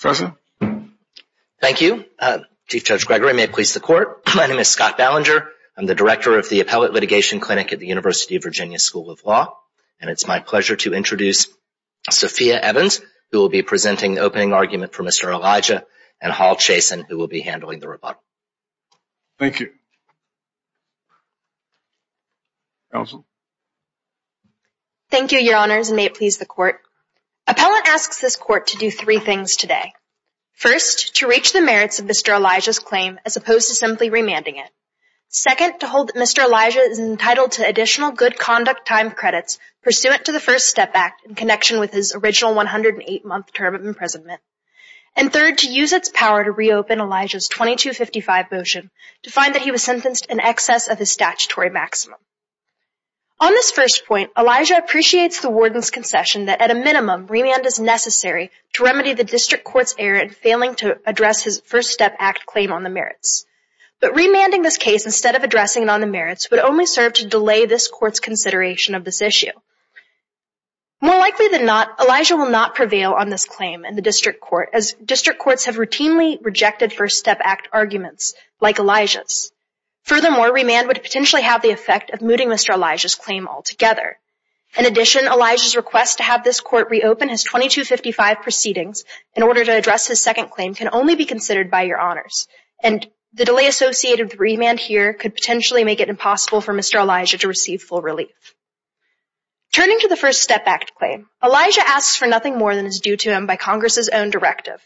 Thank you. Chief Judge Gregory, may it please the court. My name is Scott Ballinger. I'm the director of the Appellate Litigation Clinic at the University of Virginia School of Law, and it's my pleasure to introduce Sophia Evans, who will be presenting the opening argument for Mr. Elijah, and Hall Chason, who will be handling the rebuttal. Thank you. Allison. Thank you, Your Honors, and may it please the court. Appellant asks this court to do three things today. First, to reach the merits of Mr. Elijah's claim as opposed to simply remanding it. Second, to hold that Mr. Elijah is entitled to additional good conduct time credits pursuant to the First Step Act in connection with his original 108-month term of imprisonment. And third, to use its power to reopen Elijah's 2255 motion to find that he was sentenced in excess of his statutory maximum. On this first point, Elijah appreciates the warden's concession that, at a minimum, remand is necessary to remedy the district court's error in failing to address his First Step Act claim on the merits. But remanding this case instead of addressing it on the merits would only serve to delay this court's consideration of this issue. More likely than not, Elijah will not prevail on this claim in the district court, as district Furthermore, remand would potentially have the effect of mooting Mr. Elijah's claim altogether. In addition, Elijah's request to have this court reopen his 2255 proceedings in order to address his second claim can only be considered by Your Honors, and the delay associated with remand here could potentially make it impossible for Mr. Elijah to receive full relief. Turning to the First Step Act claim, Elijah asks for nothing more than is due to him by Congress's own directive.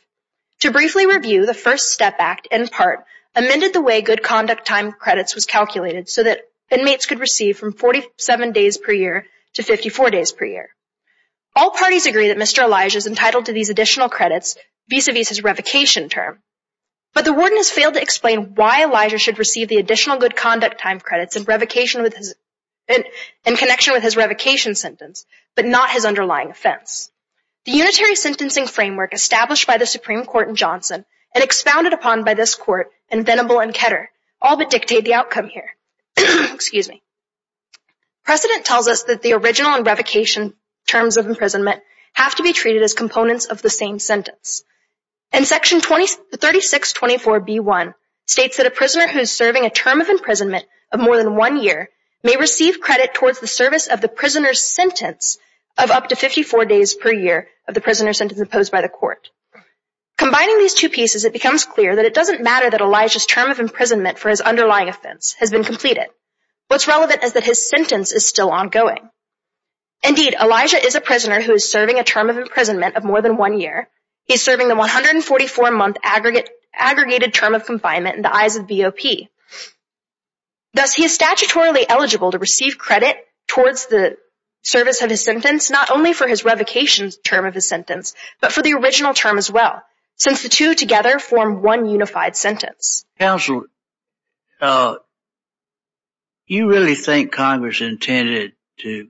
To briefly review, the First Step Act, in part, amended the way good conduct time credits was calculated so that inmates could receive from 47 days per year to 54 days per year. All parties agree that Mr. Elijah is entitled to these additional credits vis-a-vis his revocation term, but the warden has failed to explain why Elijah should receive the additional good conduct time credits in connection with his revocation sentence, but not his underlying offense. The unitary sentencing framework established by the Supreme Court in Johnson and expounded upon by this Court in Venable and Ketter all but dictate the outcome here. Precedent tells us that the original and revocation terms of imprisonment have to be treated as components of the same sentence. And Section 3624b1 states that a prisoner who is serving a term of imprisonment of more than one year may receive credit towards the service of the prisoner's sentence of up to 54 days per year of the prisoner's sentence imposed by the Court. Combining these two pieces, it becomes clear that it doesn't matter that Elijah's term of imprisonment for his underlying offense has been completed. What's relevant is that his sentence is still ongoing. Indeed, Elijah is a prisoner who is serving a term of imprisonment of more than one year. He is serving the 144-month aggregated term of confinement in the eyes of the BOP. Thus, he is statutorily eligible to receive credit towards the service of his sentence, not only for his revocation term of his sentence, but for the original term as well, since the two together form one unified sentence. Counsel, you really think Congress intended to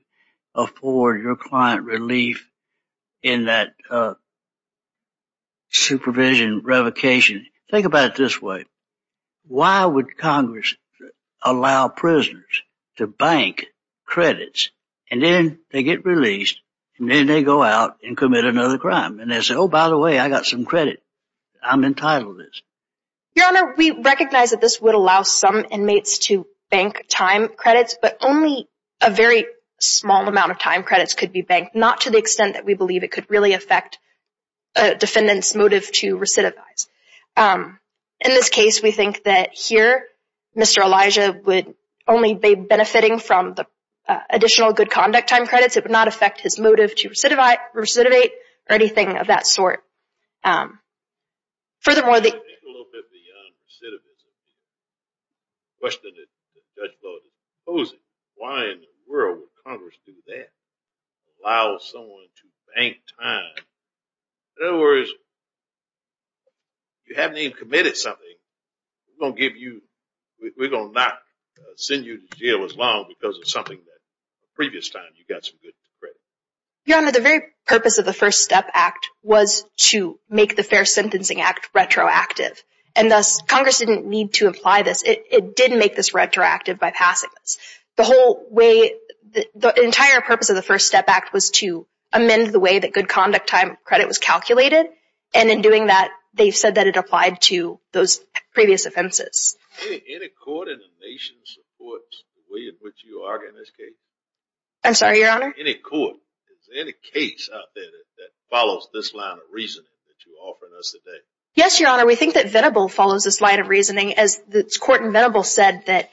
afford your client relief in that supervision revocation? Think about it this way. Why would Congress allow prisoners to bank credits and then they get released and then they go out and commit another crime? And they say, oh, by the way, I got some credit. I'm entitled to this. Your Honor, we recognize that this would allow some inmates to bank time credits, but only a very small amount of time credits could be banked, not to the extent that we believe it could really affect a defendant's motive to recidivize. In this case, we think that here, Mr. Elijah would only be benefiting from the additional good conduct time credits. It would not affect his motive to recidivate or anything of that sort. Furthermore, the- Let's take a look at the recidivism. The question that the judge brought up, why in the world would Congress do that, allow someone to bank time? In other words, you haven't even committed something. We're going to not send you to jail as long because of something that the previous time you got some good credit. Your Honor, the very purpose of the First Step Act was to make the Fair Sentencing Act retroactive. And thus, Congress didn't need to apply this. It did make this retroactive by passing this. The entire purpose of the First Step Act was to amend the way that good conduct time credit was calculated. And in doing that, they've said that it applied to those previous offenses. Any court in the nation supports the way in which you argue in this case? I'm sorry, Your Honor? Any court? Is there any case out there that follows this line of reasoning that you're offering us today? Yes, Your Honor. We think that Venable follows this line of reasoning. As the court in Venable said that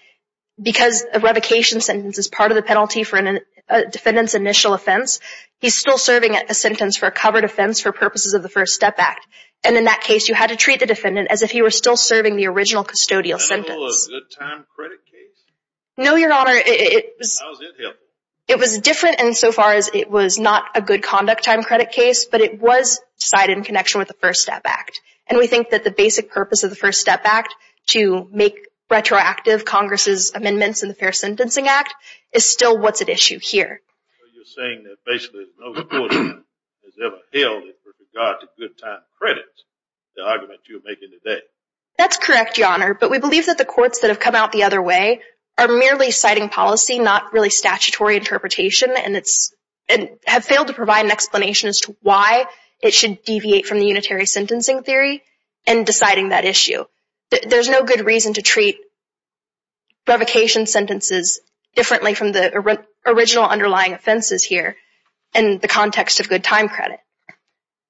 because a revocation sentence is part of the penalty for a defendant's initial offense, he's still serving a sentence for a covered offense for purposes of the First Step Act. And in that case, you had to treat the defendant as if he were still serving the original custodial sentence. Was Venable a good time credit case? No, Your Honor. It was different insofar as it was not a good conduct time credit case, but it was cited in connection with the First Step Act. And we think that the basic purpose of the First Step Act to make retroactive Congress' amendments in the Fair Sentencing Act is still what's at issue here. So you're saying that basically no court has ever held it with regard to good time credits, the argument you're making today? That's correct, Your Honor. But we believe that the courts that have come out the other way are merely citing policy, not really statutory interpretation, and have failed to provide an explanation as to why it should deviate from the unitary sentencing theory in deciding that issue. There's no good reason to treat revocation sentences differently from the original underlying offenses here in the context of good time credit.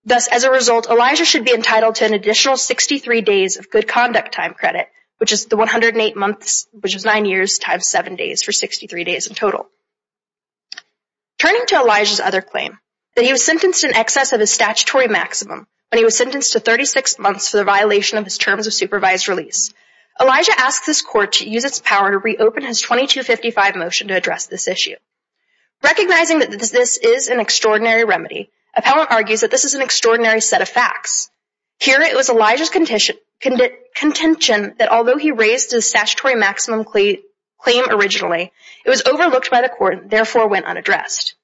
Thus, as a result, Elijah should be entitled to an additional 63 days of good conduct time credit, which is the 108 months, which is 9 years, times 7 days, for 63 days in total. Turning to Elijah's other claim, that he was sentenced in excess of his statutory maximum when he was sentenced to 36 months for the violation of his terms of supervised release, Elijah asked this court to use its power to reopen his 2255 motion to address this issue. Recognizing that this is an extraordinary remedy, appellant argues that this is an extraordinary set of facts. Here, it was Elijah's contention that although he raised his statutory maximum claim originally, it was overlooked by the court and therefore went unaddressed.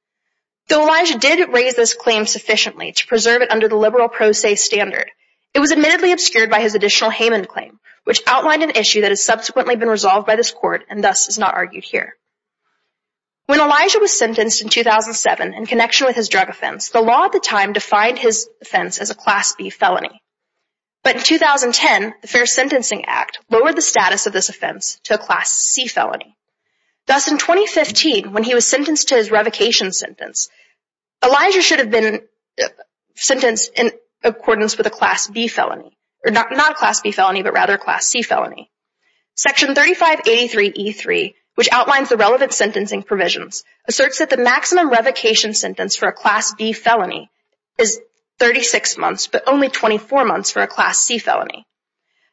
Though Elijah did raise this claim sufficiently to preserve it under the liberal pro se standard, it was admittedly obscured by his additional Haman claim, which outlined an issue that has subsequently been resolved by this court and thus is not argued here. When Elijah was sentenced in 2007 in connection with his drug offense, the law at the time defined his offense as a Class B felony. But in 2010, the Fair Sentencing Act lowered the status of this offense to a Class C felony. Thus, in 2015, when he was sentenced to his not a Class B felony, but rather a Class C felony. Section 3583E3, which outlines the relevant sentencing provisions, asserts that the maximum revocation sentence for a Class B felony is 36 months, but only 24 months for a Class C felony.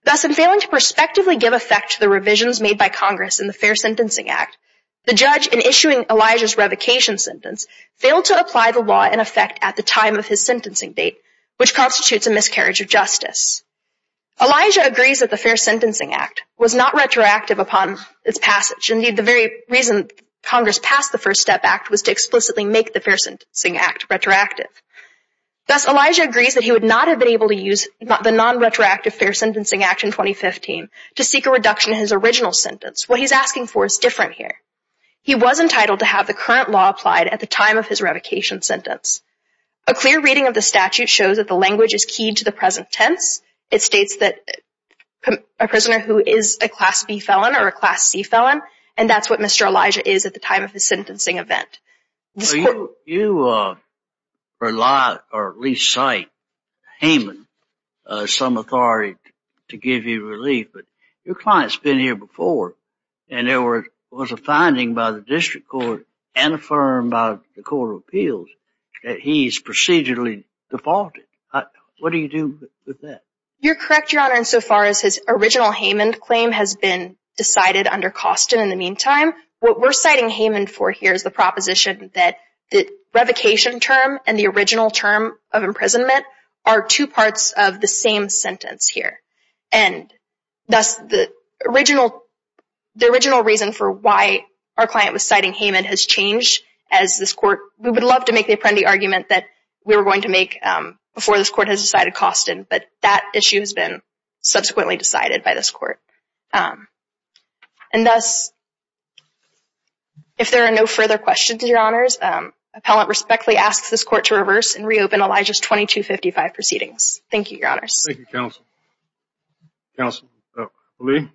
Thus, in failing to prospectively give effect to the revisions made by Congress in the Fair Sentencing Act, the judge, in issuing Elijah's revocation sentence, failed to apply the law in effect at the time of his sentencing date, which constitutes a miscarriage of justice. Elijah agrees that the Fair Sentencing Act was not retroactive upon its passage. Indeed, the very reason Congress passed the First Step Act was to explicitly make the Fair Sentencing Act retroactive. Thus, Elijah agrees that he would not have been able to use the non-retroactive Fair Sentencing Act in 2015 to seek a reduction in his original sentence. What he's asking for is different here. He was entitled to have the current law applied at the time of his revocation sentence. A clear reading of the statute shows that the language is keyed to the present tense. It states that a prisoner who is a Class B felon or a Class C felon, and that's what Mr. Elijah is at the time of his sentencing event. You rely, or at least cite, Haman as some authority to give you relief, but your client's been here before, and there was a finding by the District Court and affirmed by the Court of Appeals that he's procedurally defaulted. What do you do with that? You're correct, Your Honor, insofar as his original Haman claim has been decided under Coston in the meantime. What we're citing Haman for here is the proposition that the revocation term and the original term of imprisonment are two parts of the same sentence here. And thus, the original reason for why our client was citing Haman has changed as this Court, we would love to make the Apprendi argument that we were going to make before this Court has decided Coston, but that issue has been subsequently decided by this Court. And thus, if there are no further questions, Your Honors, Appellant respectfully asks this Court to reverse and reopen Elijah's 2255 proceedings. Thank you, Your Honors. Thank you, Counsel. Counsel Lee?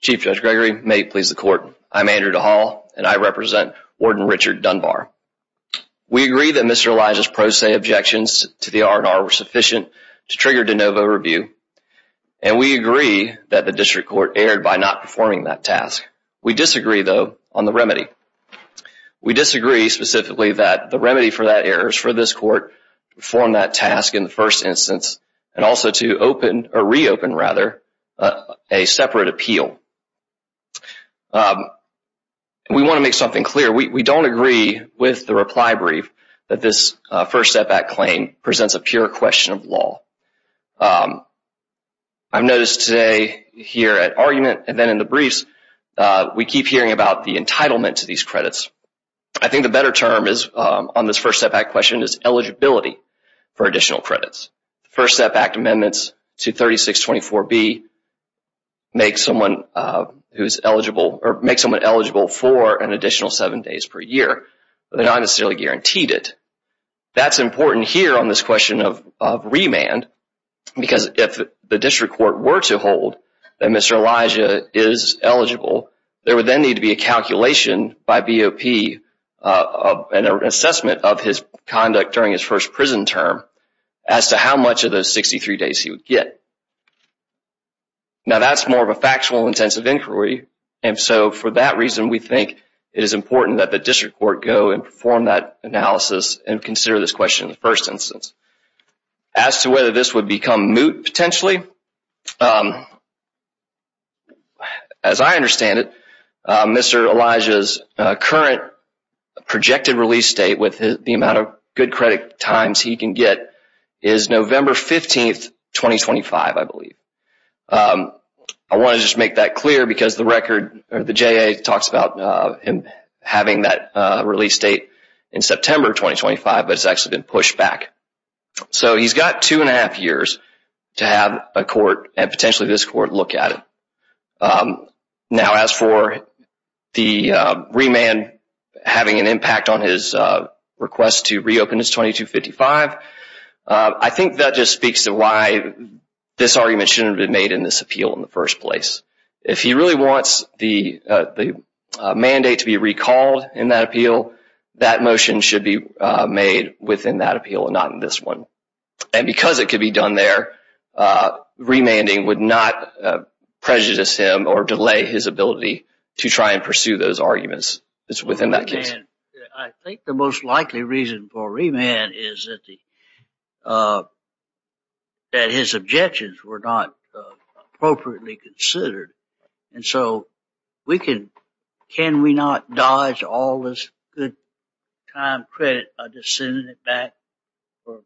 Chief Judge Gregory, may it please the Court, I'm Andrew DeHaul, and I represent Warden Richard Dunbar. We agree that Mr. Elijah's pro se objections to the R&R were sufficient to trigger de novo review, and we agree that the District Court erred by not performing that task. We disagree, though, on the issue specifically that the remedy for that error is for this Court to perform that task in the first instance and also to reopen a separate appeal. We want to make something clear. We don't agree with the reply brief that this First Step Act claim presents a pure question of law. I've noticed today here at argument and then I keep hearing about the entitlement to these credits. I think the better term on this First Step Act question is eligibility for additional credits. First Step Act amendments to 3624B make someone eligible for an additional seven days per year, but they're not necessarily guaranteed it. That's important here on this question of remand, because if the District Court were to hold that Mr. Elijah is eligible, there would then need to be a calculation by BOP and an assessment of his conduct during his first prison term as to how much of those 63 days he would get. Now that's more of a factual intensive inquiry, and so for that reason we think it is important that the District Court go and perform that analysis and consider this question in the first instance. As to whether this would become moot potentially, as I understand it, Mr. Elijah's current projected release date with the amount of good credit times he can get is November 15, 2025, I believe. I want to just make that clear because the record, or the JA talks about him having that release date in September 2025, but it's actually been pushed back. So he's got two and a half years to have a court, and potentially this court, look at it. Now as for the remand having an impact on his request to reopen his 2255, I think that just speaks to why this argument shouldn't have been made in this appeal in the first place. If he really wants the mandate to be made within that appeal and not in this one. And because it could be done there, remanding would not prejudice him or delay his ability to try and pursue those arguments within that case. I think the most likely reason for remand is that his objections were not appropriately considered. And so can we not dodge all this good time credit by just sending it back for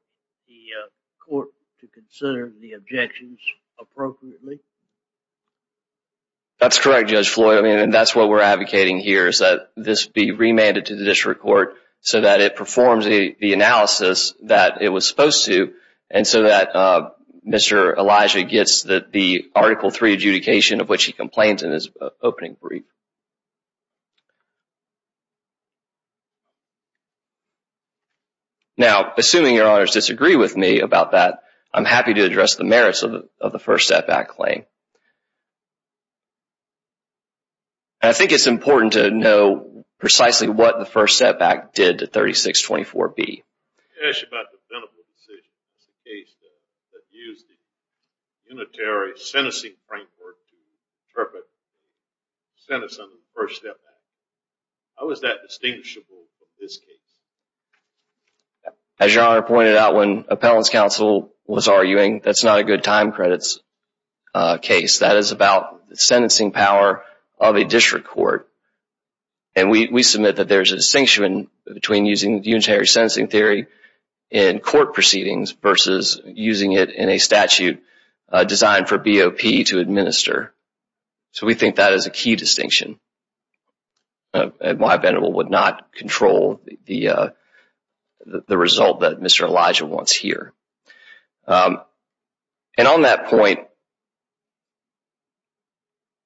the court to consider the objections appropriately? That's correct, Judge Floyd, and that's what we're advocating here is that this be remanded to the district court so that it performs the analysis that it was supposed to, and so that Mr. Elijah gets the Article III adjudication of which he complained in his opening brief. Now, assuming your honors disagree with me about that, I'm happy to address the merits of the first setback claim. I think it's important to know precisely what the first setback did to 3624B. I want to ask you about the Pinnable decision. It's the case that used the unitary sentencing framework to interpret the sentence under the first setback. How is that distinguishable from this case? As your honor pointed out when appellants counsel was arguing, that's not a good time credits case. That is about the sentencing power of a district court. And we submit that there's a distinction between using unitary sentencing theory in court proceedings versus using it in a statute designed for BOP to administer. So we think that is a key distinction and why Pinnable would not control the result that Mr. Elijah wants here. And on that point,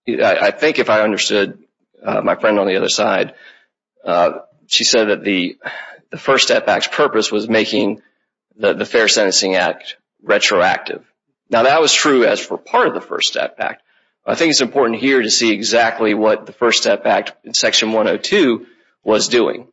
I think if I understood my friend on the other side, she said that the first setback's purpose was making the Fair Sentencing Act retroactive. Now that was true as for part of the first setback. I think it's important here to see exactly what the first setback in Section 102 was doing.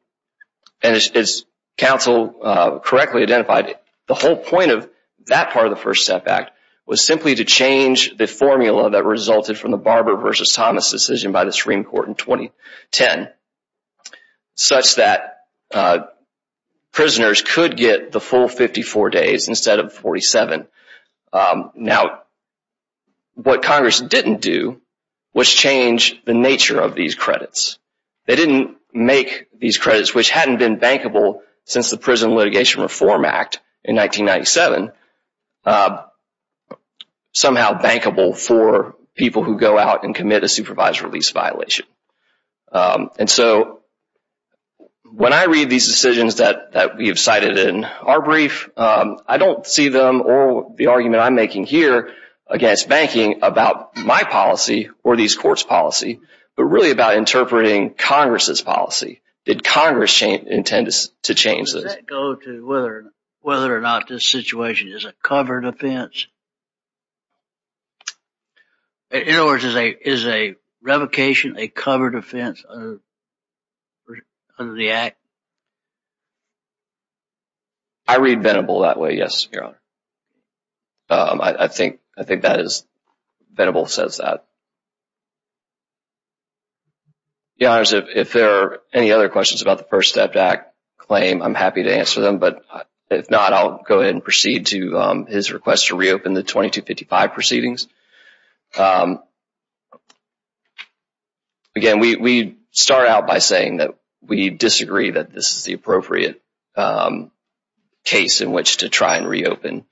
And as counsel correctly identified, the whole point of that part of the first setback was simply to change the formula that resulted from the Barber v. Thomas decision by the Supreme Court in 2010 such that prisoners could get the full 54 days instead of 47. Now what Congress didn't do was change the nature of these credits. They didn't make these credits, which hadn't been bankable since the Prison Litigation Reform Act in 1997, somehow bankable for people who go out and commit a supervised release violation. And so when I read these decisions that we have cited in our brief, I don't see them or the argument I'm making here against banking about my policy or these courts' policy, but really about interpreting Congress' policy. Did Congress intend to change this? Does that go to whether or not this situation is a covered offense? In other words, is a revocation a covered offense under the Act? I read Venable that way, yes, Your Honor. I think Venable says that. Your Honors, if there are any other questions about the First Step Act claim, I'm happy to answer them. But if not, I'll go ahead and proceed to his request to reopen the 2255 proceedings. Again, we start out by saying that we disagree that this is the appropriate case in which to try and reopen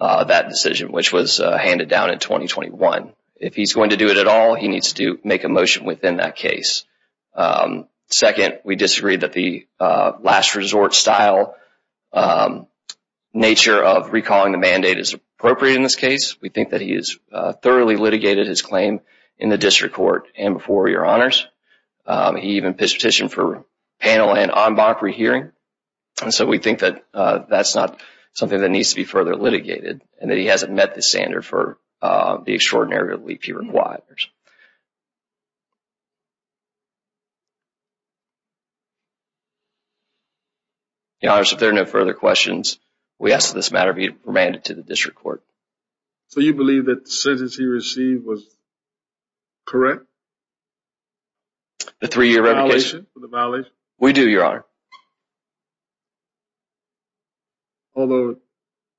that decision, which was handed down in 2021. If he's going to do it at all, he needs to make a motion within that case. Second, we disagree that the last resort style nature of recalling the mandate is appropriate in this case. We think that he has thoroughly litigated his claim in the District Court and before Your Honors. He even pitched a petition for panel and en banc rehearing. So we think that that's not something that needs to be further litigated and that he hasn't met the standard for the extraordinary relief he requires. Your Honors, if there are no further questions, we ask that this matter be remanded to the District Court. So you believe that the sentence he received was correct? The three-year revocation? The violation? We do, Your Honor. Although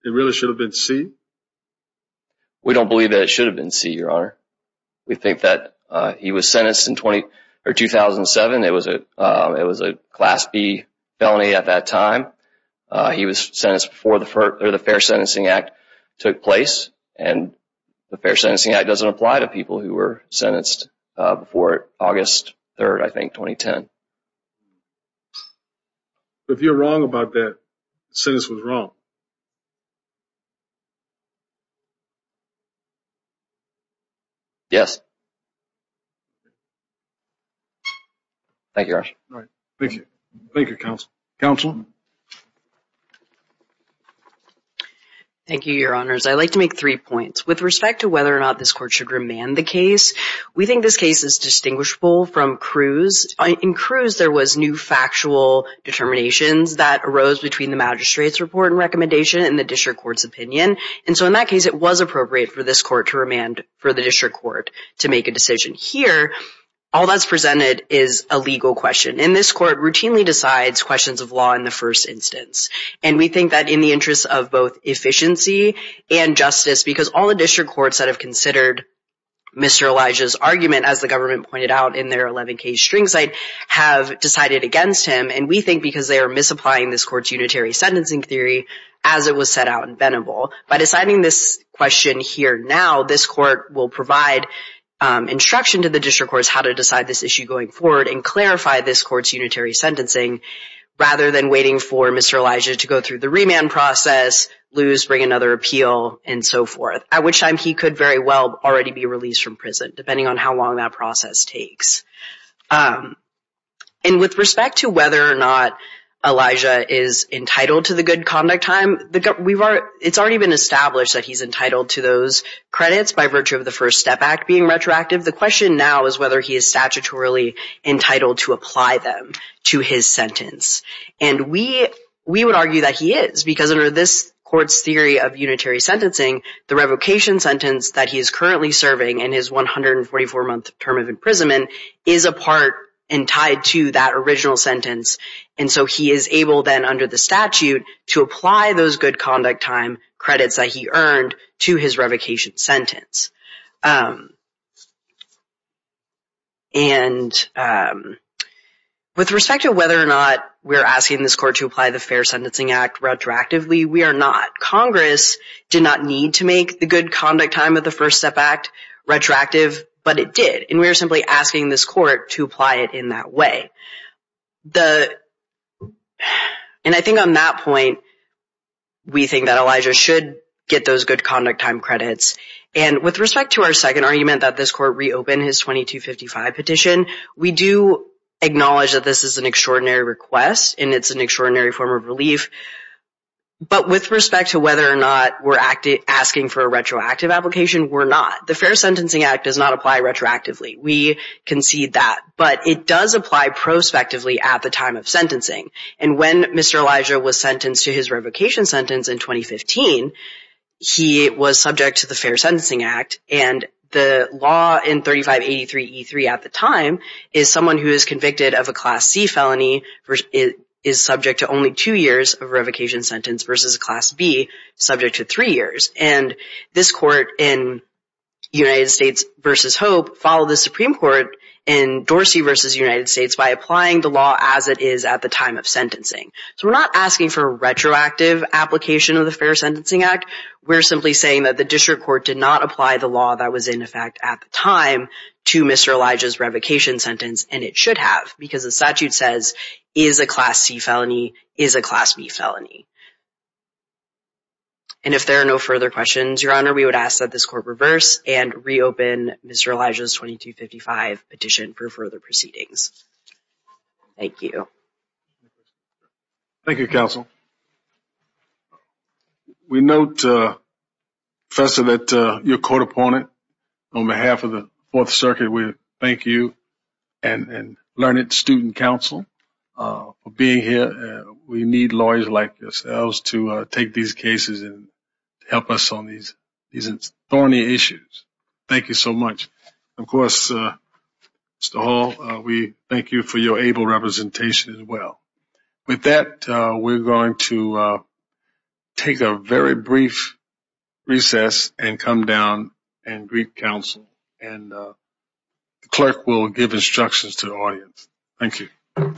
it really should have been C? We don't believe that it should have been C, Your Honor. We think that he was sentenced in 2007. It was a Class B felony at that time. He was sentenced before the Fair Sentencing Act took place. And the Fair Sentencing Act doesn't apply to people who were sentenced before August 3rd, I think, 2010. So if you're wrong about that, the sentence was wrong? Yes. Thank you, Your Honor. Thank you, Counsel. Counsel? Thank you, Your Honors. I'd like to make three points. With respect to whether or not this court should remand the case, we think this case is distinguishable from Cruz. In Cruz, there was new factual determinations that arose between the magistrate's report and recommendation and the District Court's opinion. And so in that case, it was appropriate for this court to remand for the District Court to make a decision. Here, all that's presented is a legal question. And this court routinely decides questions of law in the first instance. And we think that in the interest of both efficiency and justice, as the government pointed out in their 11-case string site, have decided against him. And we think because they are misapplying this court's unitary sentencing theory as it was set out in Venable. By deciding this question here now, this court will provide instruction to the District Courts how to decide this issue going forward and clarify this court's unitary sentencing rather than waiting for Mr. Elijah to go through the remand process, lose, bring another appeal, and so forth, at which time he could very well already be released from prison, depending on how long that process takes. And with respect to whether or not Elijah is entitled to the good conduct time, it's already been established that he's entitled to those credits by virtue of the First Step Act being retroactive. The question now is whether he is statutorily entitled to apply them to his sentence. And we would argue that he is, because under this court's theory of unitary sentencing, the revocation sentence that he is currently serving in his 144-month term of imprisonment is a part and tied to that original sentence. And so he is able then under the statute to apply those good conduct time credits that he earned to his revocation sentence. And with respect to whether or not we're asking this court to apply the Fair Sentencing Act retroactively, we are not. Congress did not need to make the good conduct time of the First Step Act retroactive, but it did. And we are simply asking this court to apply it in that way. And I think on that point, we think that Elijah should get those good conduct time credits. And with respect to our second argument that this court reopened his 2255 petition, we do acknowledge that this is an extraordinary request and it's an extraordinary form of relief. But with respect to whether or not we're asking for a retroactive application, we're not. The Fair Sentencing Act does not apply retroactively. We concede that. But it does apply prospectively at the time of sentencing. And when Mr. Elijah was sentenced to his revocation sentence in 2015, he was subject to the Fair Sentencing Act. And the law in 3583E3 at the time is someone who is convicted of a Class C felony is subject to only two years of revocation sentence versus a Class B subject to three years. And this court in United States v. Hope followed the Supreme Court in Dorsey v. United States by applying the law as it is at the time of sentencing. So we're not asking for a retroactive application of the Fair Sentencing Act. We're simply saying that the district court did not apply the law that was in effect at the time to Mr. Elijah's revocation sentence. And it should have because the statute says is a Class C felony is a Class B felony. And if there are no further questions, Your Honor, we would ask that this court reverse and reopen Mr. Elijah's 2255 petition for further proceedings. Thank you. Thank you, Counsel. We note, Professor, that your court opponent on behalf of the Fourth Circuit, we thank you and Learned Student Council for being here. We need lawyers like yourselves to take these cases and help us on these thorny issues. Thank you so much. Of course, Mr. Hall, we thank you for your able representation as well. With that, we're going to take a very brief recess and come down and greet Counsel. And the clerk will give instructions to the audience. Thank you.